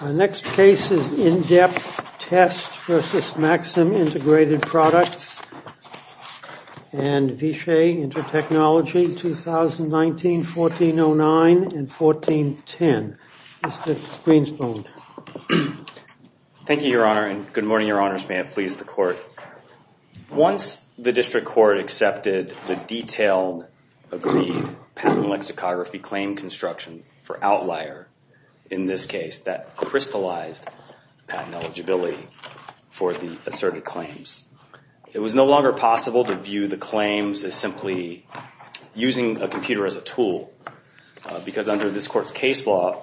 Our next case is in-depth test versus maxim. Integrated Products and Vishay Intertechnology 2019, 1409 and 1410. Mr. Greenspone. Thank you, Your Honor, and good morning, Your Honors. May it please the court. Once the district court accepted the detailed agreed patent lexicography claim construction for outlier, in this case, that crystallized patent eligibility for the asserted claims. It was no longer possible to view the claims as simply using a computer as a tool, because under this court's case law,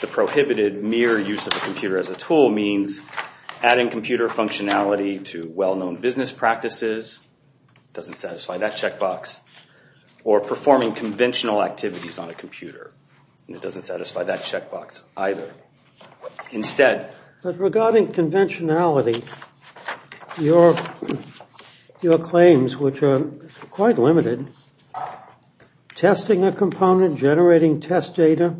the prohibited mere use of a computer as a tool means adding computer functionality to well-known business practices, doesn't satisfy that checkbox, or performing conventional activities on a computer. It doesn't satisfy that checkbox either. Instead, regarding conventionality, your claims, which are quite limited, testing a component, generating test data,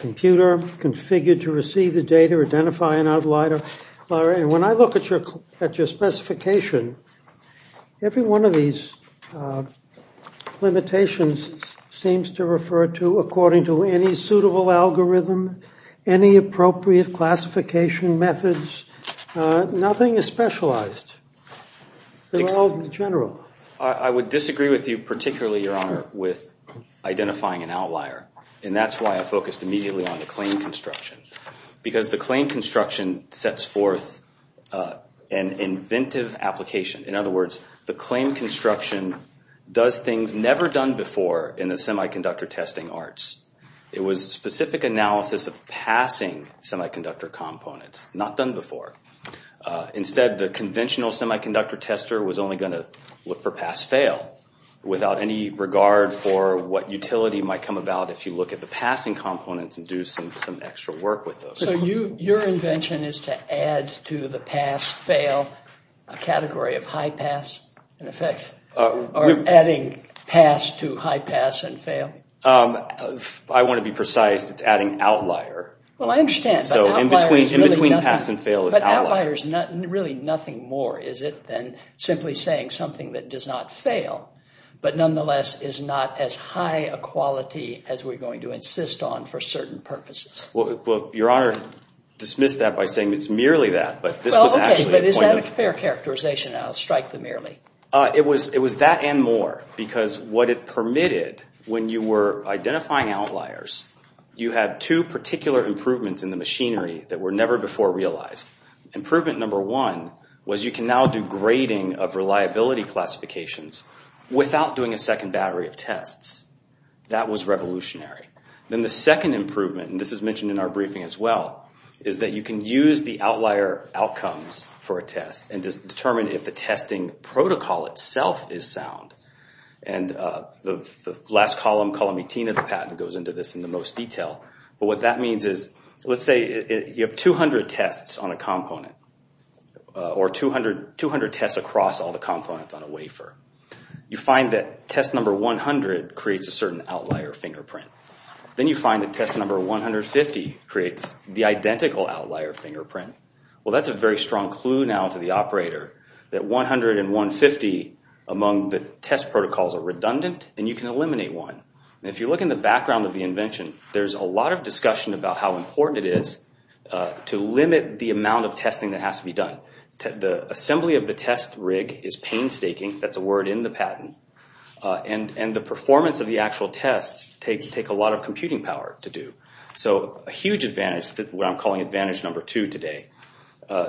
computer configured to receive the data, identify an outlier. Larry, when I look at your specification, every one of these limitations seems to refer to, according to any suitable algorithm, any appropriate classification methods, nothing is specialized at all in general. I would disagree with you, particularly, Your Honor, with identifying an outlier, and that's why I focused immediately on the claim construction, because the claim construction sets forth an inventive application. In other words, the claim construction does things never done before in the semiconductor testing arts. It was specific analysis of passing semiconductor components, not done before. Instead, the conventional semiconductor tester was only going to look for pass-fail, without any regard for what utility might come about if you look at the passing components and do some extra work with those. So your invention is to add to the pass-fail a category of high pass, in effect? Or adding pass to high pass and fail? I want to be precise, it's adding outlier. Well, I understand, but outlier is really nothing more, is it, than simply saying something that does not fail, but nonetheless is not as high a quality as we're going to insist on for certain purposes. Well, Your Honor, dismiss that by saying it's merely that, but this was actually a point of... Well, okay, but is that a fair characterization? I'll strike the merely. It was that and more, because what it permitted when you were identifying outliers, you had two particular improvements in the machinery that were never before realized. Improvement number one was you can now do grading of reliability classifications without doing a second battery of tests. That was revolutionary. Then the second improvement, and this is mentioned in our briefing as well, is that you can use the outlier outcomes for a test and determine if the testing protocol itself is sound. And the last column, column 18 of the patent, goes into this in the most detail. But what that means is, let's say you have 200 tests on a component, or 200 tests across all the components on a wafer. You find that test number 100 creates a certain outlier fingerprint. Then you find that test number 150 creates the identical outlier fingerprint. Well, that's a very strong clue now to the operator, that 100 and 150 among the test protocols are redundant, and you can eliminate one. If you look in the background of the invention, there's a lot of discussion about how important it is to limit the amount of testing that has to be done. The assembly of the test rig is painstaking. That's a word in the patent. And the performance of the actual tests take a lot of computing power to do. So a huge advantage, what I'm calling advantage number two today,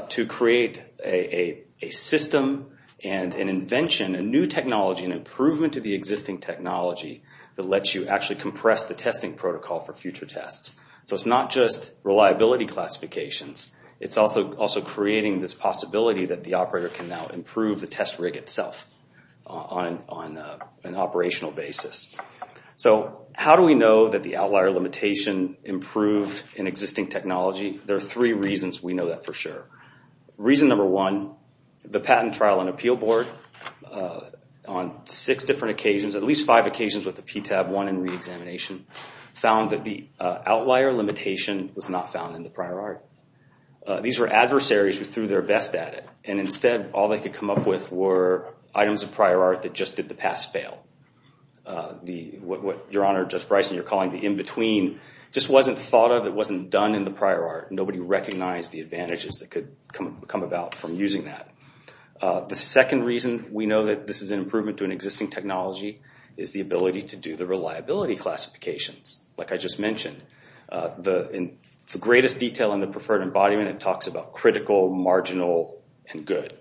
to create a system and an invention, a new technology, an improvement to the existing technology that lets you actually compress the testing protocol for future tests. So it's not just reliability classifications. It's also creating this possibility that the operator can now improve the test rig itself on an operational basis. So how do we know that the outlier limitation improved in existing technology? There are three reasons we know that for sure. Reason number one, the patent trial and appeal board on six different occasions, at least five occasions with the PTAB1 and re-examination, found that the outlier limitation was not found in the prior art. These were adversaries who threw their best at it. And instead, all they could come up with were items of prior art that just did the past fail. What your honor, Judge Bryson, you're calling the in-between just wasn't thought of, it wasn't done in the prior art. Nobody recognized the advantages that could come about from using that. The second reason we know that this is an improvement to an existing technology is the ability to do the reliability classifications. Like I just mentioned, in the greatest detail in the preferred embodiment, it talks about critical, marginal, and good.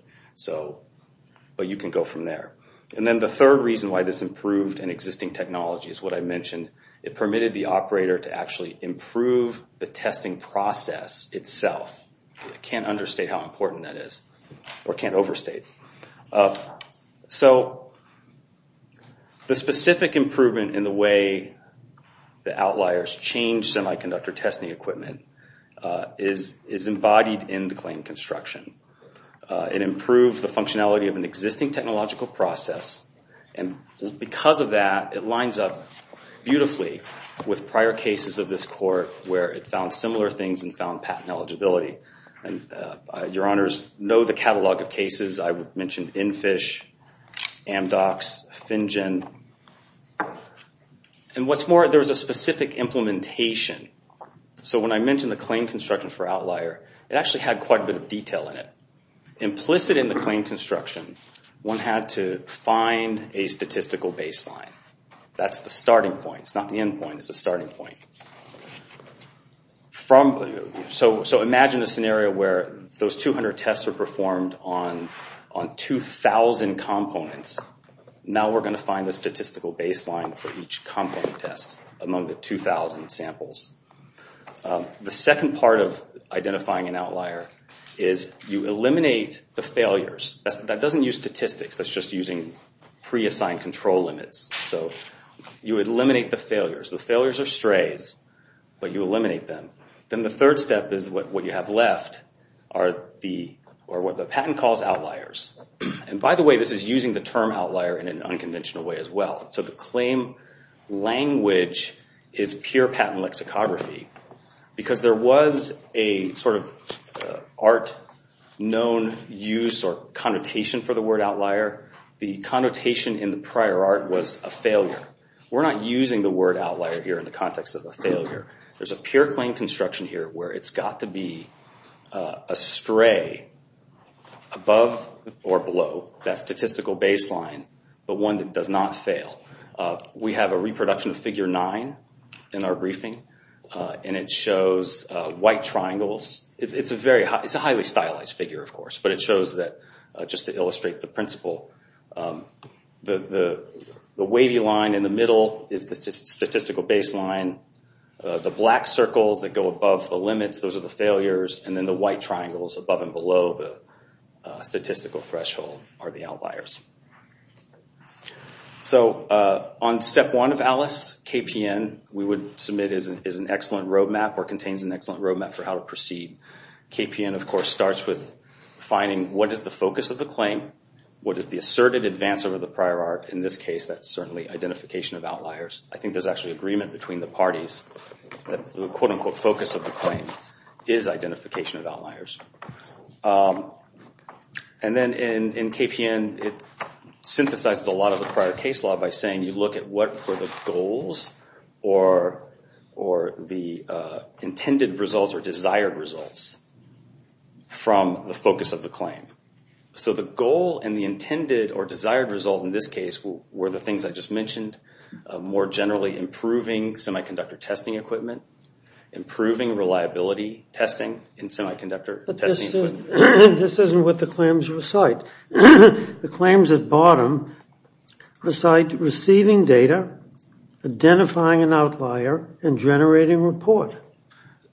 But you can go from there. And then the third reason why this improved in existing technology is what I mentioned. It permitted the operator to actually improve the testing process itself. I can't understate how important that is. Or can't overstate. So the specific improvement in the way the outliers change semiconductor testing equipment is embodied in the claim construction. It improved the functionality of an existing technological process. And because of that, it lines up beautifully with prior cases of this court where it found similar things and found patent eligibility. And your honors know the catalog of cases. I mentioned NPHISH, Amdocs, FinGen. And what's more, there was a specific implementation. So when I mentioned the claim construction for outlier, it actually had quite a bit of detail in it. Implicit in the claim construction, one had to find a statistical baseline. That's the starting point. It's not the end point, it's the starting point. So imagine a scenario where those 200 tests were performed on 2,000 components. Now we're going to find the statistical baseline for each component test among the 2,000 samples. The second part of identifying an outlier is you eliminate the failures. That doesn't use statistics, that's just using pre-assigned control limits. So you eliminate the failures. The failures are strays, but you eliminate them. Then the third step is what you have left, are what the patent calls outliers. And by the way, this is using the term outlier in an unconventional way as well. So the claim language is pure patent lexicography. Because there was a sort of art known use or connotation for the word outlier, the connotation in the prior art was a failure. We're not using the word outlier here in the context of a failure. There's a pure claim construction here where it's got to be a stray above or below that statistical baseline, but one that does not fail. We have a reproduction of Figure 9 in our briefing, and it shows white triangles. It's a highly stylized figure, of course, but it shows that, just to illustrate the principle, the wavy line in the middle is the statistical baseline. The black circles that go above the limits, those are the failures. And then the white triangles above and below the statistical threshold are the outliers. So on step one of ALICE, KPN, we would submit is an excellent roadmap or contains an excellent roadmap for how to proceed. KPN, of course, starts with finding what is the focus of the claim, what is the asserted advance over the prior art. In this case, that's certainly identification of outliers. I think there's actually agreement between the parties that the quote-unquote focus of the claim is identification of outliers. And then in KPN, it synthesizes a lot of the prior case law by saying you look at what were the goals or the intended results or desired results from the focus of the claim. So the goal and the intended or desired result in this case were the things I just mentioned. More generally, improving semiconductor testing equipment, improving reliability testing in semiconductor testing equipment. But this isn't what the claims recite. The claims at bottom recite receiving data, identifying an outlier, and generating report.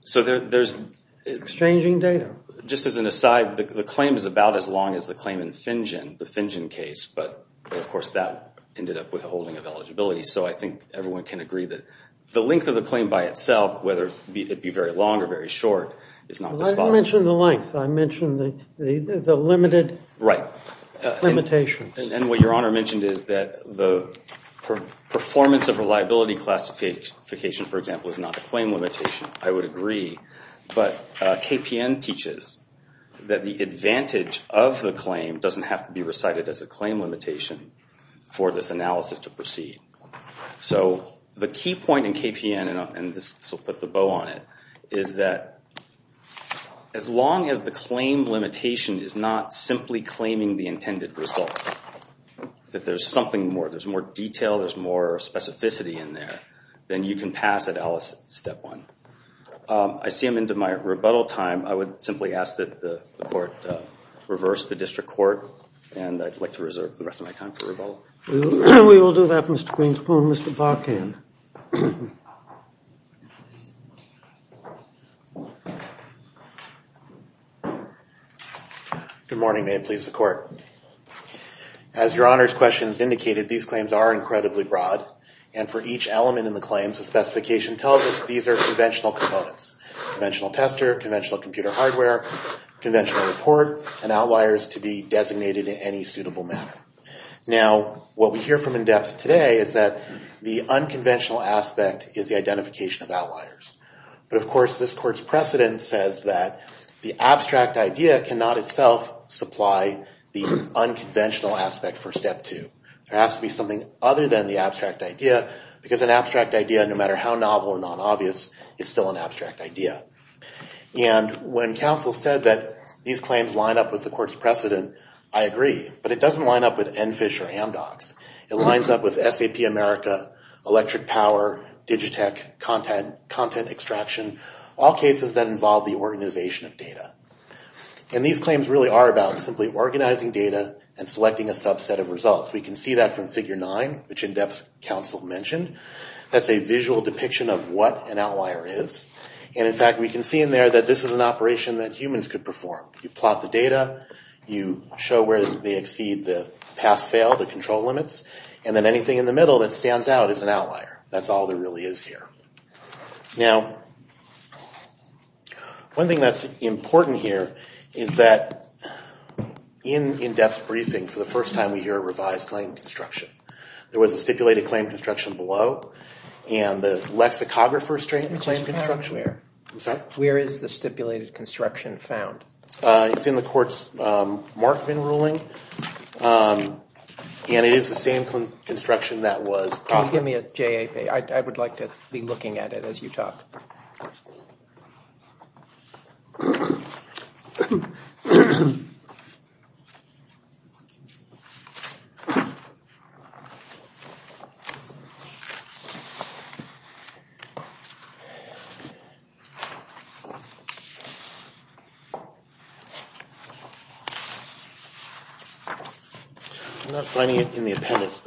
So there's... Exchanging data. Just as an aside, the claim is about as long as the claim in Fingen, the Fingen case. But, of course, that ended up with a holding of eligibility. So I think everyone can agree that the length of the claim by itself, whether it be very long or very short, is not dispositive. I didn't mention the length. I mentioned the limited limitations. And what Your Honor mentioned is that the performance of reliability classification, for example, is not a claim limitation. I would agree. But KPN teaches that the advantage of the claim doesn't have to be recited as a claim limitation for this analysis to proceed. So the key point in KPN, and this will put the bow on it, is that as long as the claim limitation is not simply claiming the intended result, that there's something more, there's more detail, there's more specificity in there, then you can pass it, Alice, step one. I see I'm into my rebuttal time. I would simply ask that the Court reverse the district court, and I'd like to reserve the rest of my time for rebuttal. We will do that, Mr. Queensborough. Mr. Barkan. Good morning. May it please the Court. As Your Honor's questions indicated, these claims are incredibly broad. And for each element in the claims, the specification tells us these are conventional components. Conventional tester, conventional computer hardware, conventional report, and outliers to be designated in any suitable manner. Now, what we hear from in depth today is that the unconventional aspect is the identification of outliers. But of course, this Court's precedent says that the abstract idea cannot itself supply the unconventional aspect for step two. There has to be something other than the abstract idea, because an abstract idea, no matter how novel or non-obvious, is still an abstract idea. And when counsel said that these claims line up with the Court's precedent, I agree. But it doesn't line up with NFISH or Amdocs. It lines up with SAP America, electric power, digitech, content extraction, all cases that involve the organization of data. And these claims really are about simply organizing data and selecting a subset of results. We can see that from Figure 9, which in depth counsel mentioned. That's a visual depiction of what an outlier is. And in fact, we can see in there that this is an operation that humans could perform. You plot the data. You show where they exceed the pass-fail, the control limits. And then anything in the middle that stands out is an outlier. That's all there really is here. Now, one thing that's important here is that in in-depth briefing, for the first time we hear a revised claim construction. There was a stipulated claim construction below. And the lexicographer's claim construction. Where is the stipulated construction found? It's in the Court's Markman ruling. And it is the same construction that was offered. Can you give me a JAP? I would like to be looking at it as you talk. I'm not finding it in the appendix.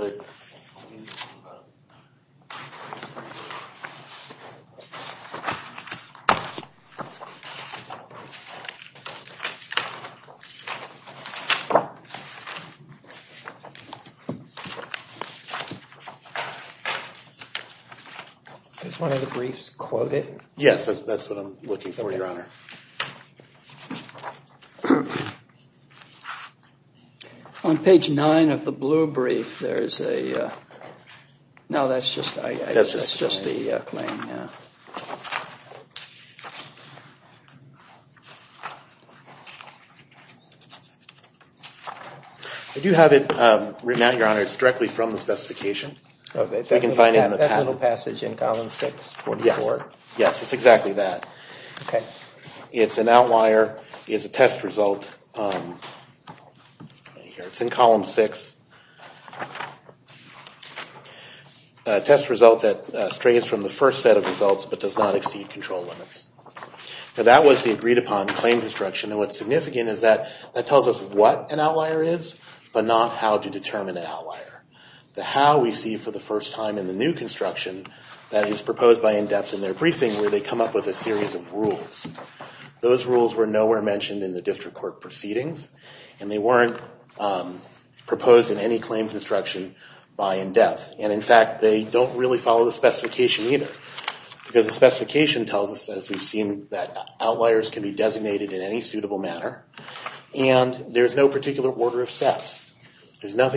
Does one of the briefs quote it? Yes, that's what I'm looking for, Your Honor. On page nine of the blue brief, there is a, no, that's just the claim. I do have it written out, Your Honor. It's directly from the specification. So we can find it in the patent. That little passage in column 644. Yes, it's exactly that. It's an outlier. It's a test result. It's in column 6. A test result that strays from the first set of results, but does not exceed control limits. Now, that was the agreed upon claim construction. And what's significant is that that tells us what an outlier is, but not how to determine an outlier. The how we see for the first time in the new construction that is proposed by in-depth in their briefing, where they come up with a series of rules. Those rules were nowhere mentioned in the district court proceedings, and they weren't proposed in any claim construction by in-depth. And, in fact, they don't really follow the specification either, because the specification tells us, as we've seen, that outliers can be designated in any suitable manner, and there's no particular order of steps. There's no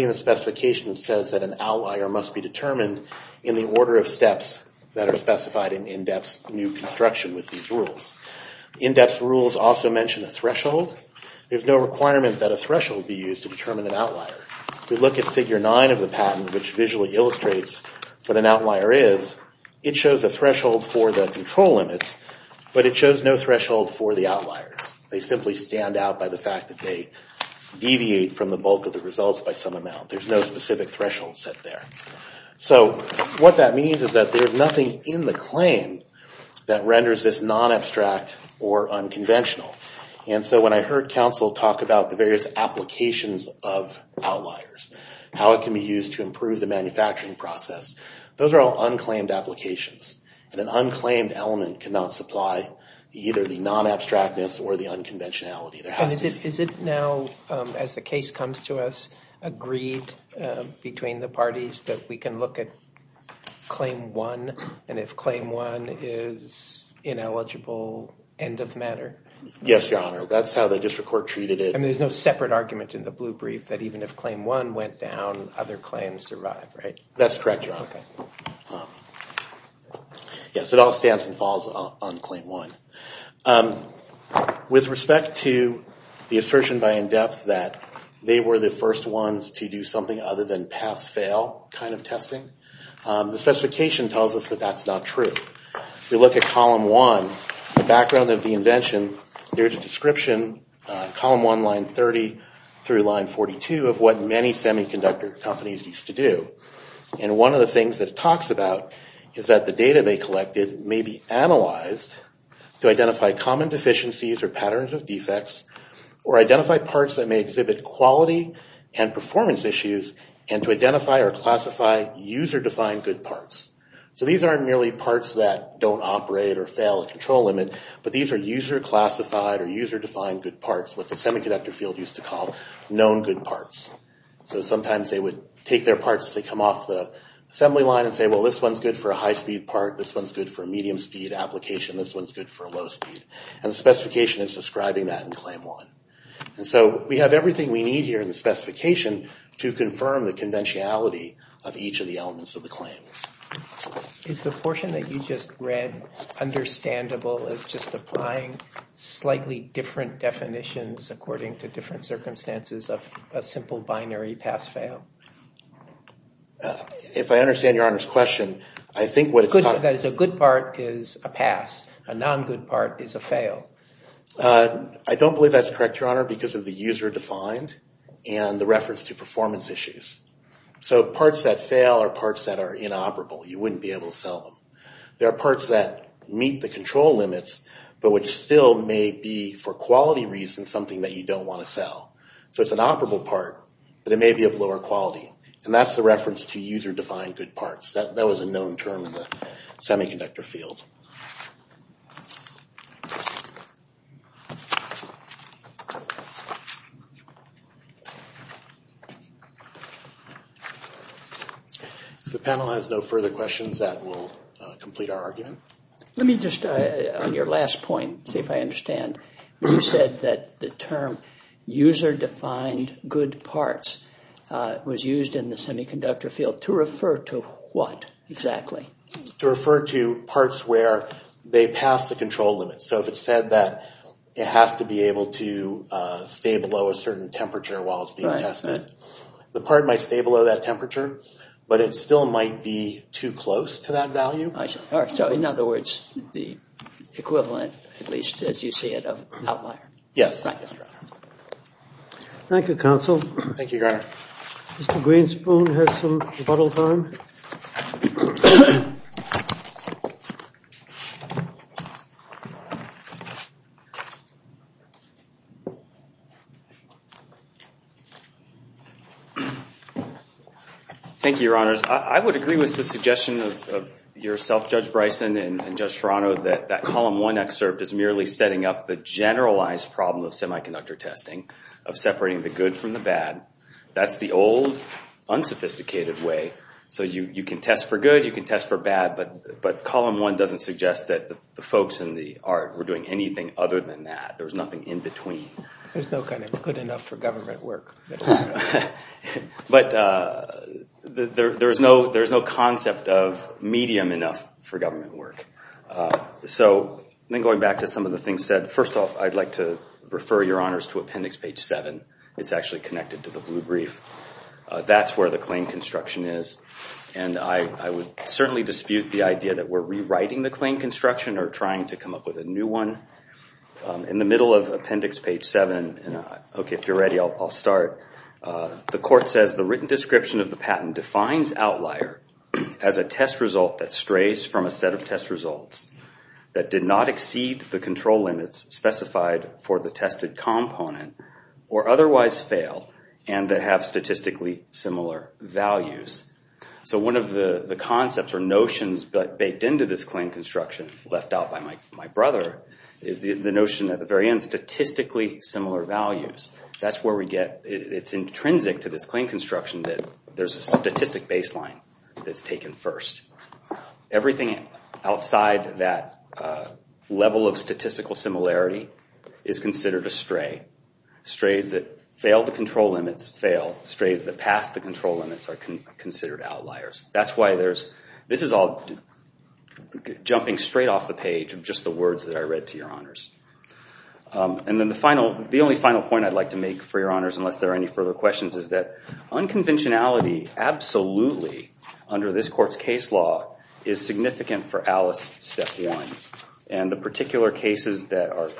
requirement that a threshold be used to determine an outlier. If you look at figure 9 of the patent, which visually illustrates what an outlier is, it shows a threshold for the control limits, but it shows no threshold for the outliers. They simply stand out by the fact that they deviate from the bulk of the results by some amount. that a threshold be used to determine an outlier. What that means is that there's nothing in the claim that renders this non-abstract or unconventional. And so when I heard counsel talk about the various applications of outliers, how it can be used to improve the manufacturing process, those are all unclaimed applications. An unclaimed element cannot supply either the non-abstractness or the unconventionality. Is it now, as the case comes to us, agreed between the parties that we can look at Claim 1 and if Claim 1 is ineligible, end of matter? Yes, Your Honor. That's how the district court treated it. And there's no separate argument in the blue brief that even if Claim 1 went down, other claims survive, right? That's correct, Your Honor. Yes, it all stands and falls on Claim 1. With respect to the assertion by In Depth that they were the first ones to do something other than pass-fail kind of testing, the specification tells us that that's not true. If you look at Column 1, the background of the invention, there's a description, Column 1, Line 30 through Line 42, of what many semiconductor companies used to do. And one of the things that it talks about is that the data they collected may be analyzed to identify common deficiencies or patterns of defects or identify parts that may exhibit quality and performance issues and to identify or classify user-defined good parts. So these aren't merely parts that don't operate or fail a control limit, but these are user-classified or user-defined good parts, what the semiconductor field used to call known good parts. So sometimes they would take their parts as they come off the assembly line and say, well, this one's good for a high-speed part, this one's good for a medium-speed application, this one's good for a low-speed. And the specification is describing that in Claim 1. And so we have everything we need here in the specification to confirm the conventionality of each of the elements of the claim. Is the portion that you just read understandable as just applying slightly different definitions according to different circumstances of a simple binary pass-fail? If I understand Your Honor's question, I think what it's talking about... A non-good part is a fail. I don't believe that's correct, Your Honor, because of the user-defined and the reference to performance issues. So parts that fail are parts that are inoperable. You wouldn't be able to sell them. There are parts that meet the control limits, but which still may be, for quality reasons, something that you don't want to sell. So it's an operable part, but it may be of lower quality. And that's the reference to user-defined good parts. That was a known term in the semiconductor field. If the panel has no further questions, that will complete our argument. Let me just, on your last point, see if I understand. You said that the term user-defined good parts was used in the semiconductor field to refer to what exactly? To refer to parts where they pass the control limits. So if it said that it has to be able to stay below a certain temperature while it's being tested, the part might stay below that temperature, but it still might be too close to that value. So in other words, the equivalent, at least as you see it, of outlier. Yes. Thank you, counsel. Thank you, Your Honor. Mr. Greenspoon has some rebuttal time. Thank you, Your Honors. I would agree with the suggestion of yourself, Judge Bryson, and Judge Serrano, that that column one excerpt is merely setting up the generalized problem of semiconductor testing, of separating the good from the bad. That's the old, unsophisticated way. So you can test for good, you can test for bad, but column one doesn't suggest that the folks in the art were doing anything other than that. There's nothing in between. There's no kind of good enough for government work. But there's no concept of medium enough for government work. So then going back to some of the things said, first off, I'd like to refer, Your Honors, to appendix page seven. It's actually connected to the blue brief. That's where the claim construction is. And I would certainly dispute the idea that we're rewriting the claim construction or trying to come up with a new one. In the middle of appendix page seven, okay, if you're ready, I'll start. The court says, the written description of the patent defines outlier as a test result that strays from a set of test results that did not exceed the control limits specified for the tested component or otherwise fail and that have statistically similar values. So one of the concepts or notions baked into this claim construction, left out by my brother, is the notion at the very end, statistically similar values. That's where we get, it's intrinsic to this claim construction that there's a statistic baseline that's taken first. Everything outside that level of statistical similarity is considered a stray. Strays that fail the control limits fail. Strays that pass the control limits are considered outliers. That's why there's, this is all jumping straight off the page of just the words that I read to Your Honors. And then the final, the only final point I'd like to make for Your Honors, unless there are any further questions, is that unconventionality absolutely, under this court's case law, is significant for Alice, step one. And the particular cases that are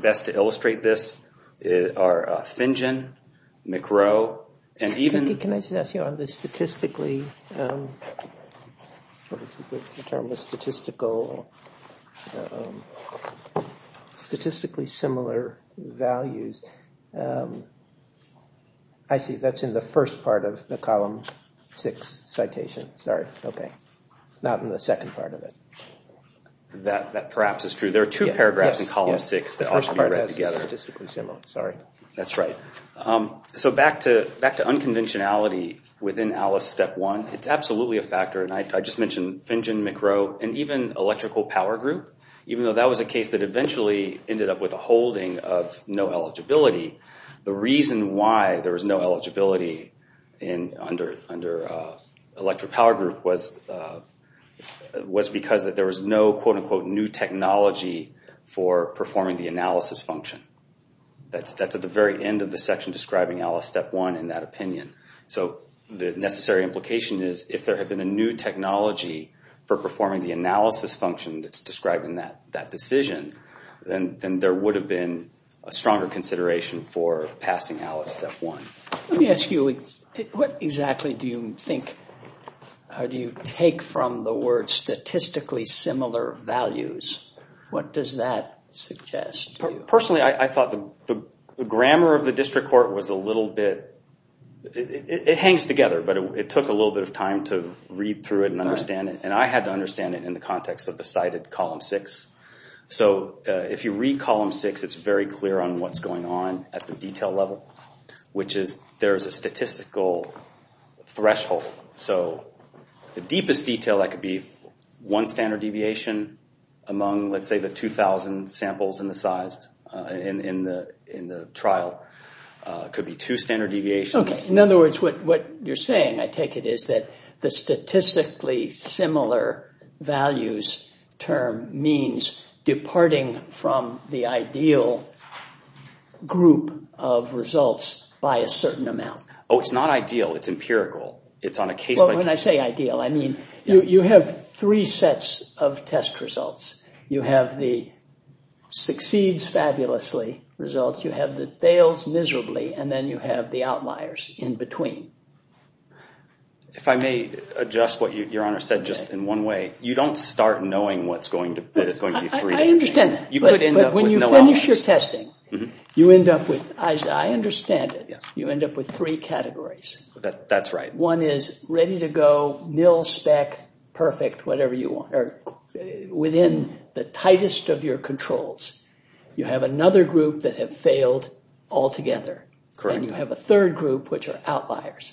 best to illustrate this are Fingen, McRow, and even- Can I just ask you on the statistically, what is the term, the statistical, statistically similar values. I see, that's in the first part of the column six citation. Sorry, okay. Not in the second part of it. That perhaps is true. There are two paragraphs in column six that are supposed to be read together. That's right. So back to unconventionality within Alice, step one. It's absolutely a factor, and I just mentioned Fingen, McRow, and even electrical power group, even though that was a case that eventually ended up with a holding of no eligibility the reason why there was no eligibility under electrical power group was because there was no quote-unquote new technology for performing the analysis function. That's at the very end of the section describing Alice, step one, in that opinion. So the necessary implication is if there had been a new technology for performing the analysis function that's described in that decision, then there would have been a stronger consideration for passing Alice, step one. Let me ask you, what exactly do you think, how do you take from the words statistically similar values? What does that suggest to you? Personally, I thought the grammar of the district court was a little bit, it hangs together, but it took a little bit of time to read through it and understand it, and I had to understand it in the context of the cited column six. So if you read column six, it's very clear on what's going on at the detail level, which is there's a statistical threshold. So the deepest detail, that could be one standard deviation among, let's say, the 2,000 samples in the trial. It could be two standard deviations. In other words, what you're saying, I take it, is that the statistically similar values term means departing from the ideal group of results by a certain amount. Oh, it's not ideal, it's empirical. Well, when I say ideal, I mean, you have three sets of test results. You have the succeeds fabulously results, you have the fails miserably, and then you have the outliers in between. If I may adjust what Your Honor said, just in one way, you don't start knowing that it's going to be three. I understand that. You could end up with no options. But when you finish your testing, you end up with, I understand it, you end up with three categories. That's right. One is ready to go, nil, spec, perfect, whatever you want, or within the tightest of your controls. You have another group that have failed altogether. Correct. And you have a third group, which are outliers.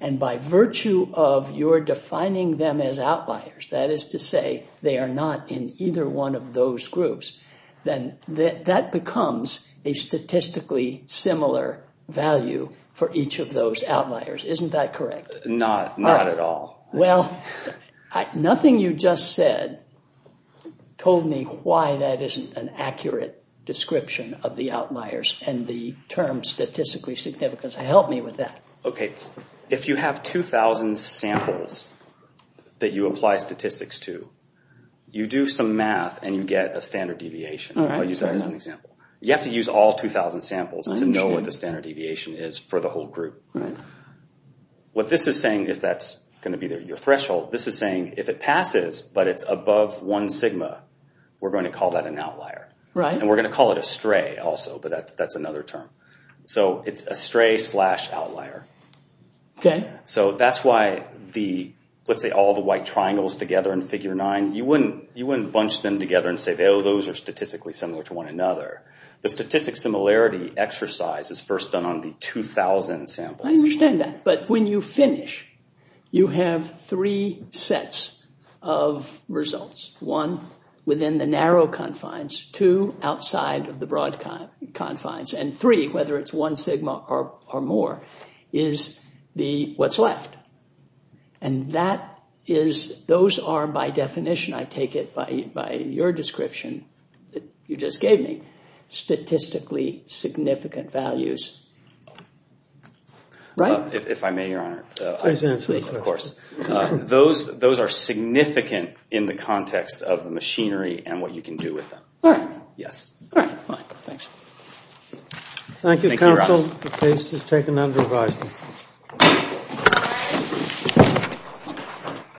And by virtue of your defining them as outliers, that is to say they are not in either one of those groups, then that becomes a statistically similar value for each of those outliers. Isn't that correct? Not at all. Well, nothing you just said told me why that isn't an accurate description of the outliers and the term statistically significant. Help me with that. If you have 2,000 samples that you apply statistics to, you do some math and you get a standard deviation. I'll use that as an example. You have to use all 2,000 samples to know what the standard deviation is for the whole group. What this is saying, if that's going to be your threshold, this is saying if it passes but it's above one sigma, we're going to call that an outlier. And we're going to call it a stray also, but that's another term. So it's a stray slash outlier. Okay. So that's why, let's say, all the white triangles together in Figure 9, you wouldn't bunch them together and say, oh, those are statistically similar to one another. The statistic similarity exercise is first done on the 2,000 samples. I understand that. But when you finish, you have three sets of results. One, within the narrow confines. Two, outside of the broad confines. And three, whether it's one sigma or more, is what's left. And those are, by definition, I take it by your description that you just gave me, statistically significant values. Right? If I may, Your Honor. Yes, please. Of course. Those are significant in the context of the machinery and what you can do with them. All right. Yes. All right. Fine. Thank you, Your Honor. Thank you, counsel. The case is taken under revised. All right.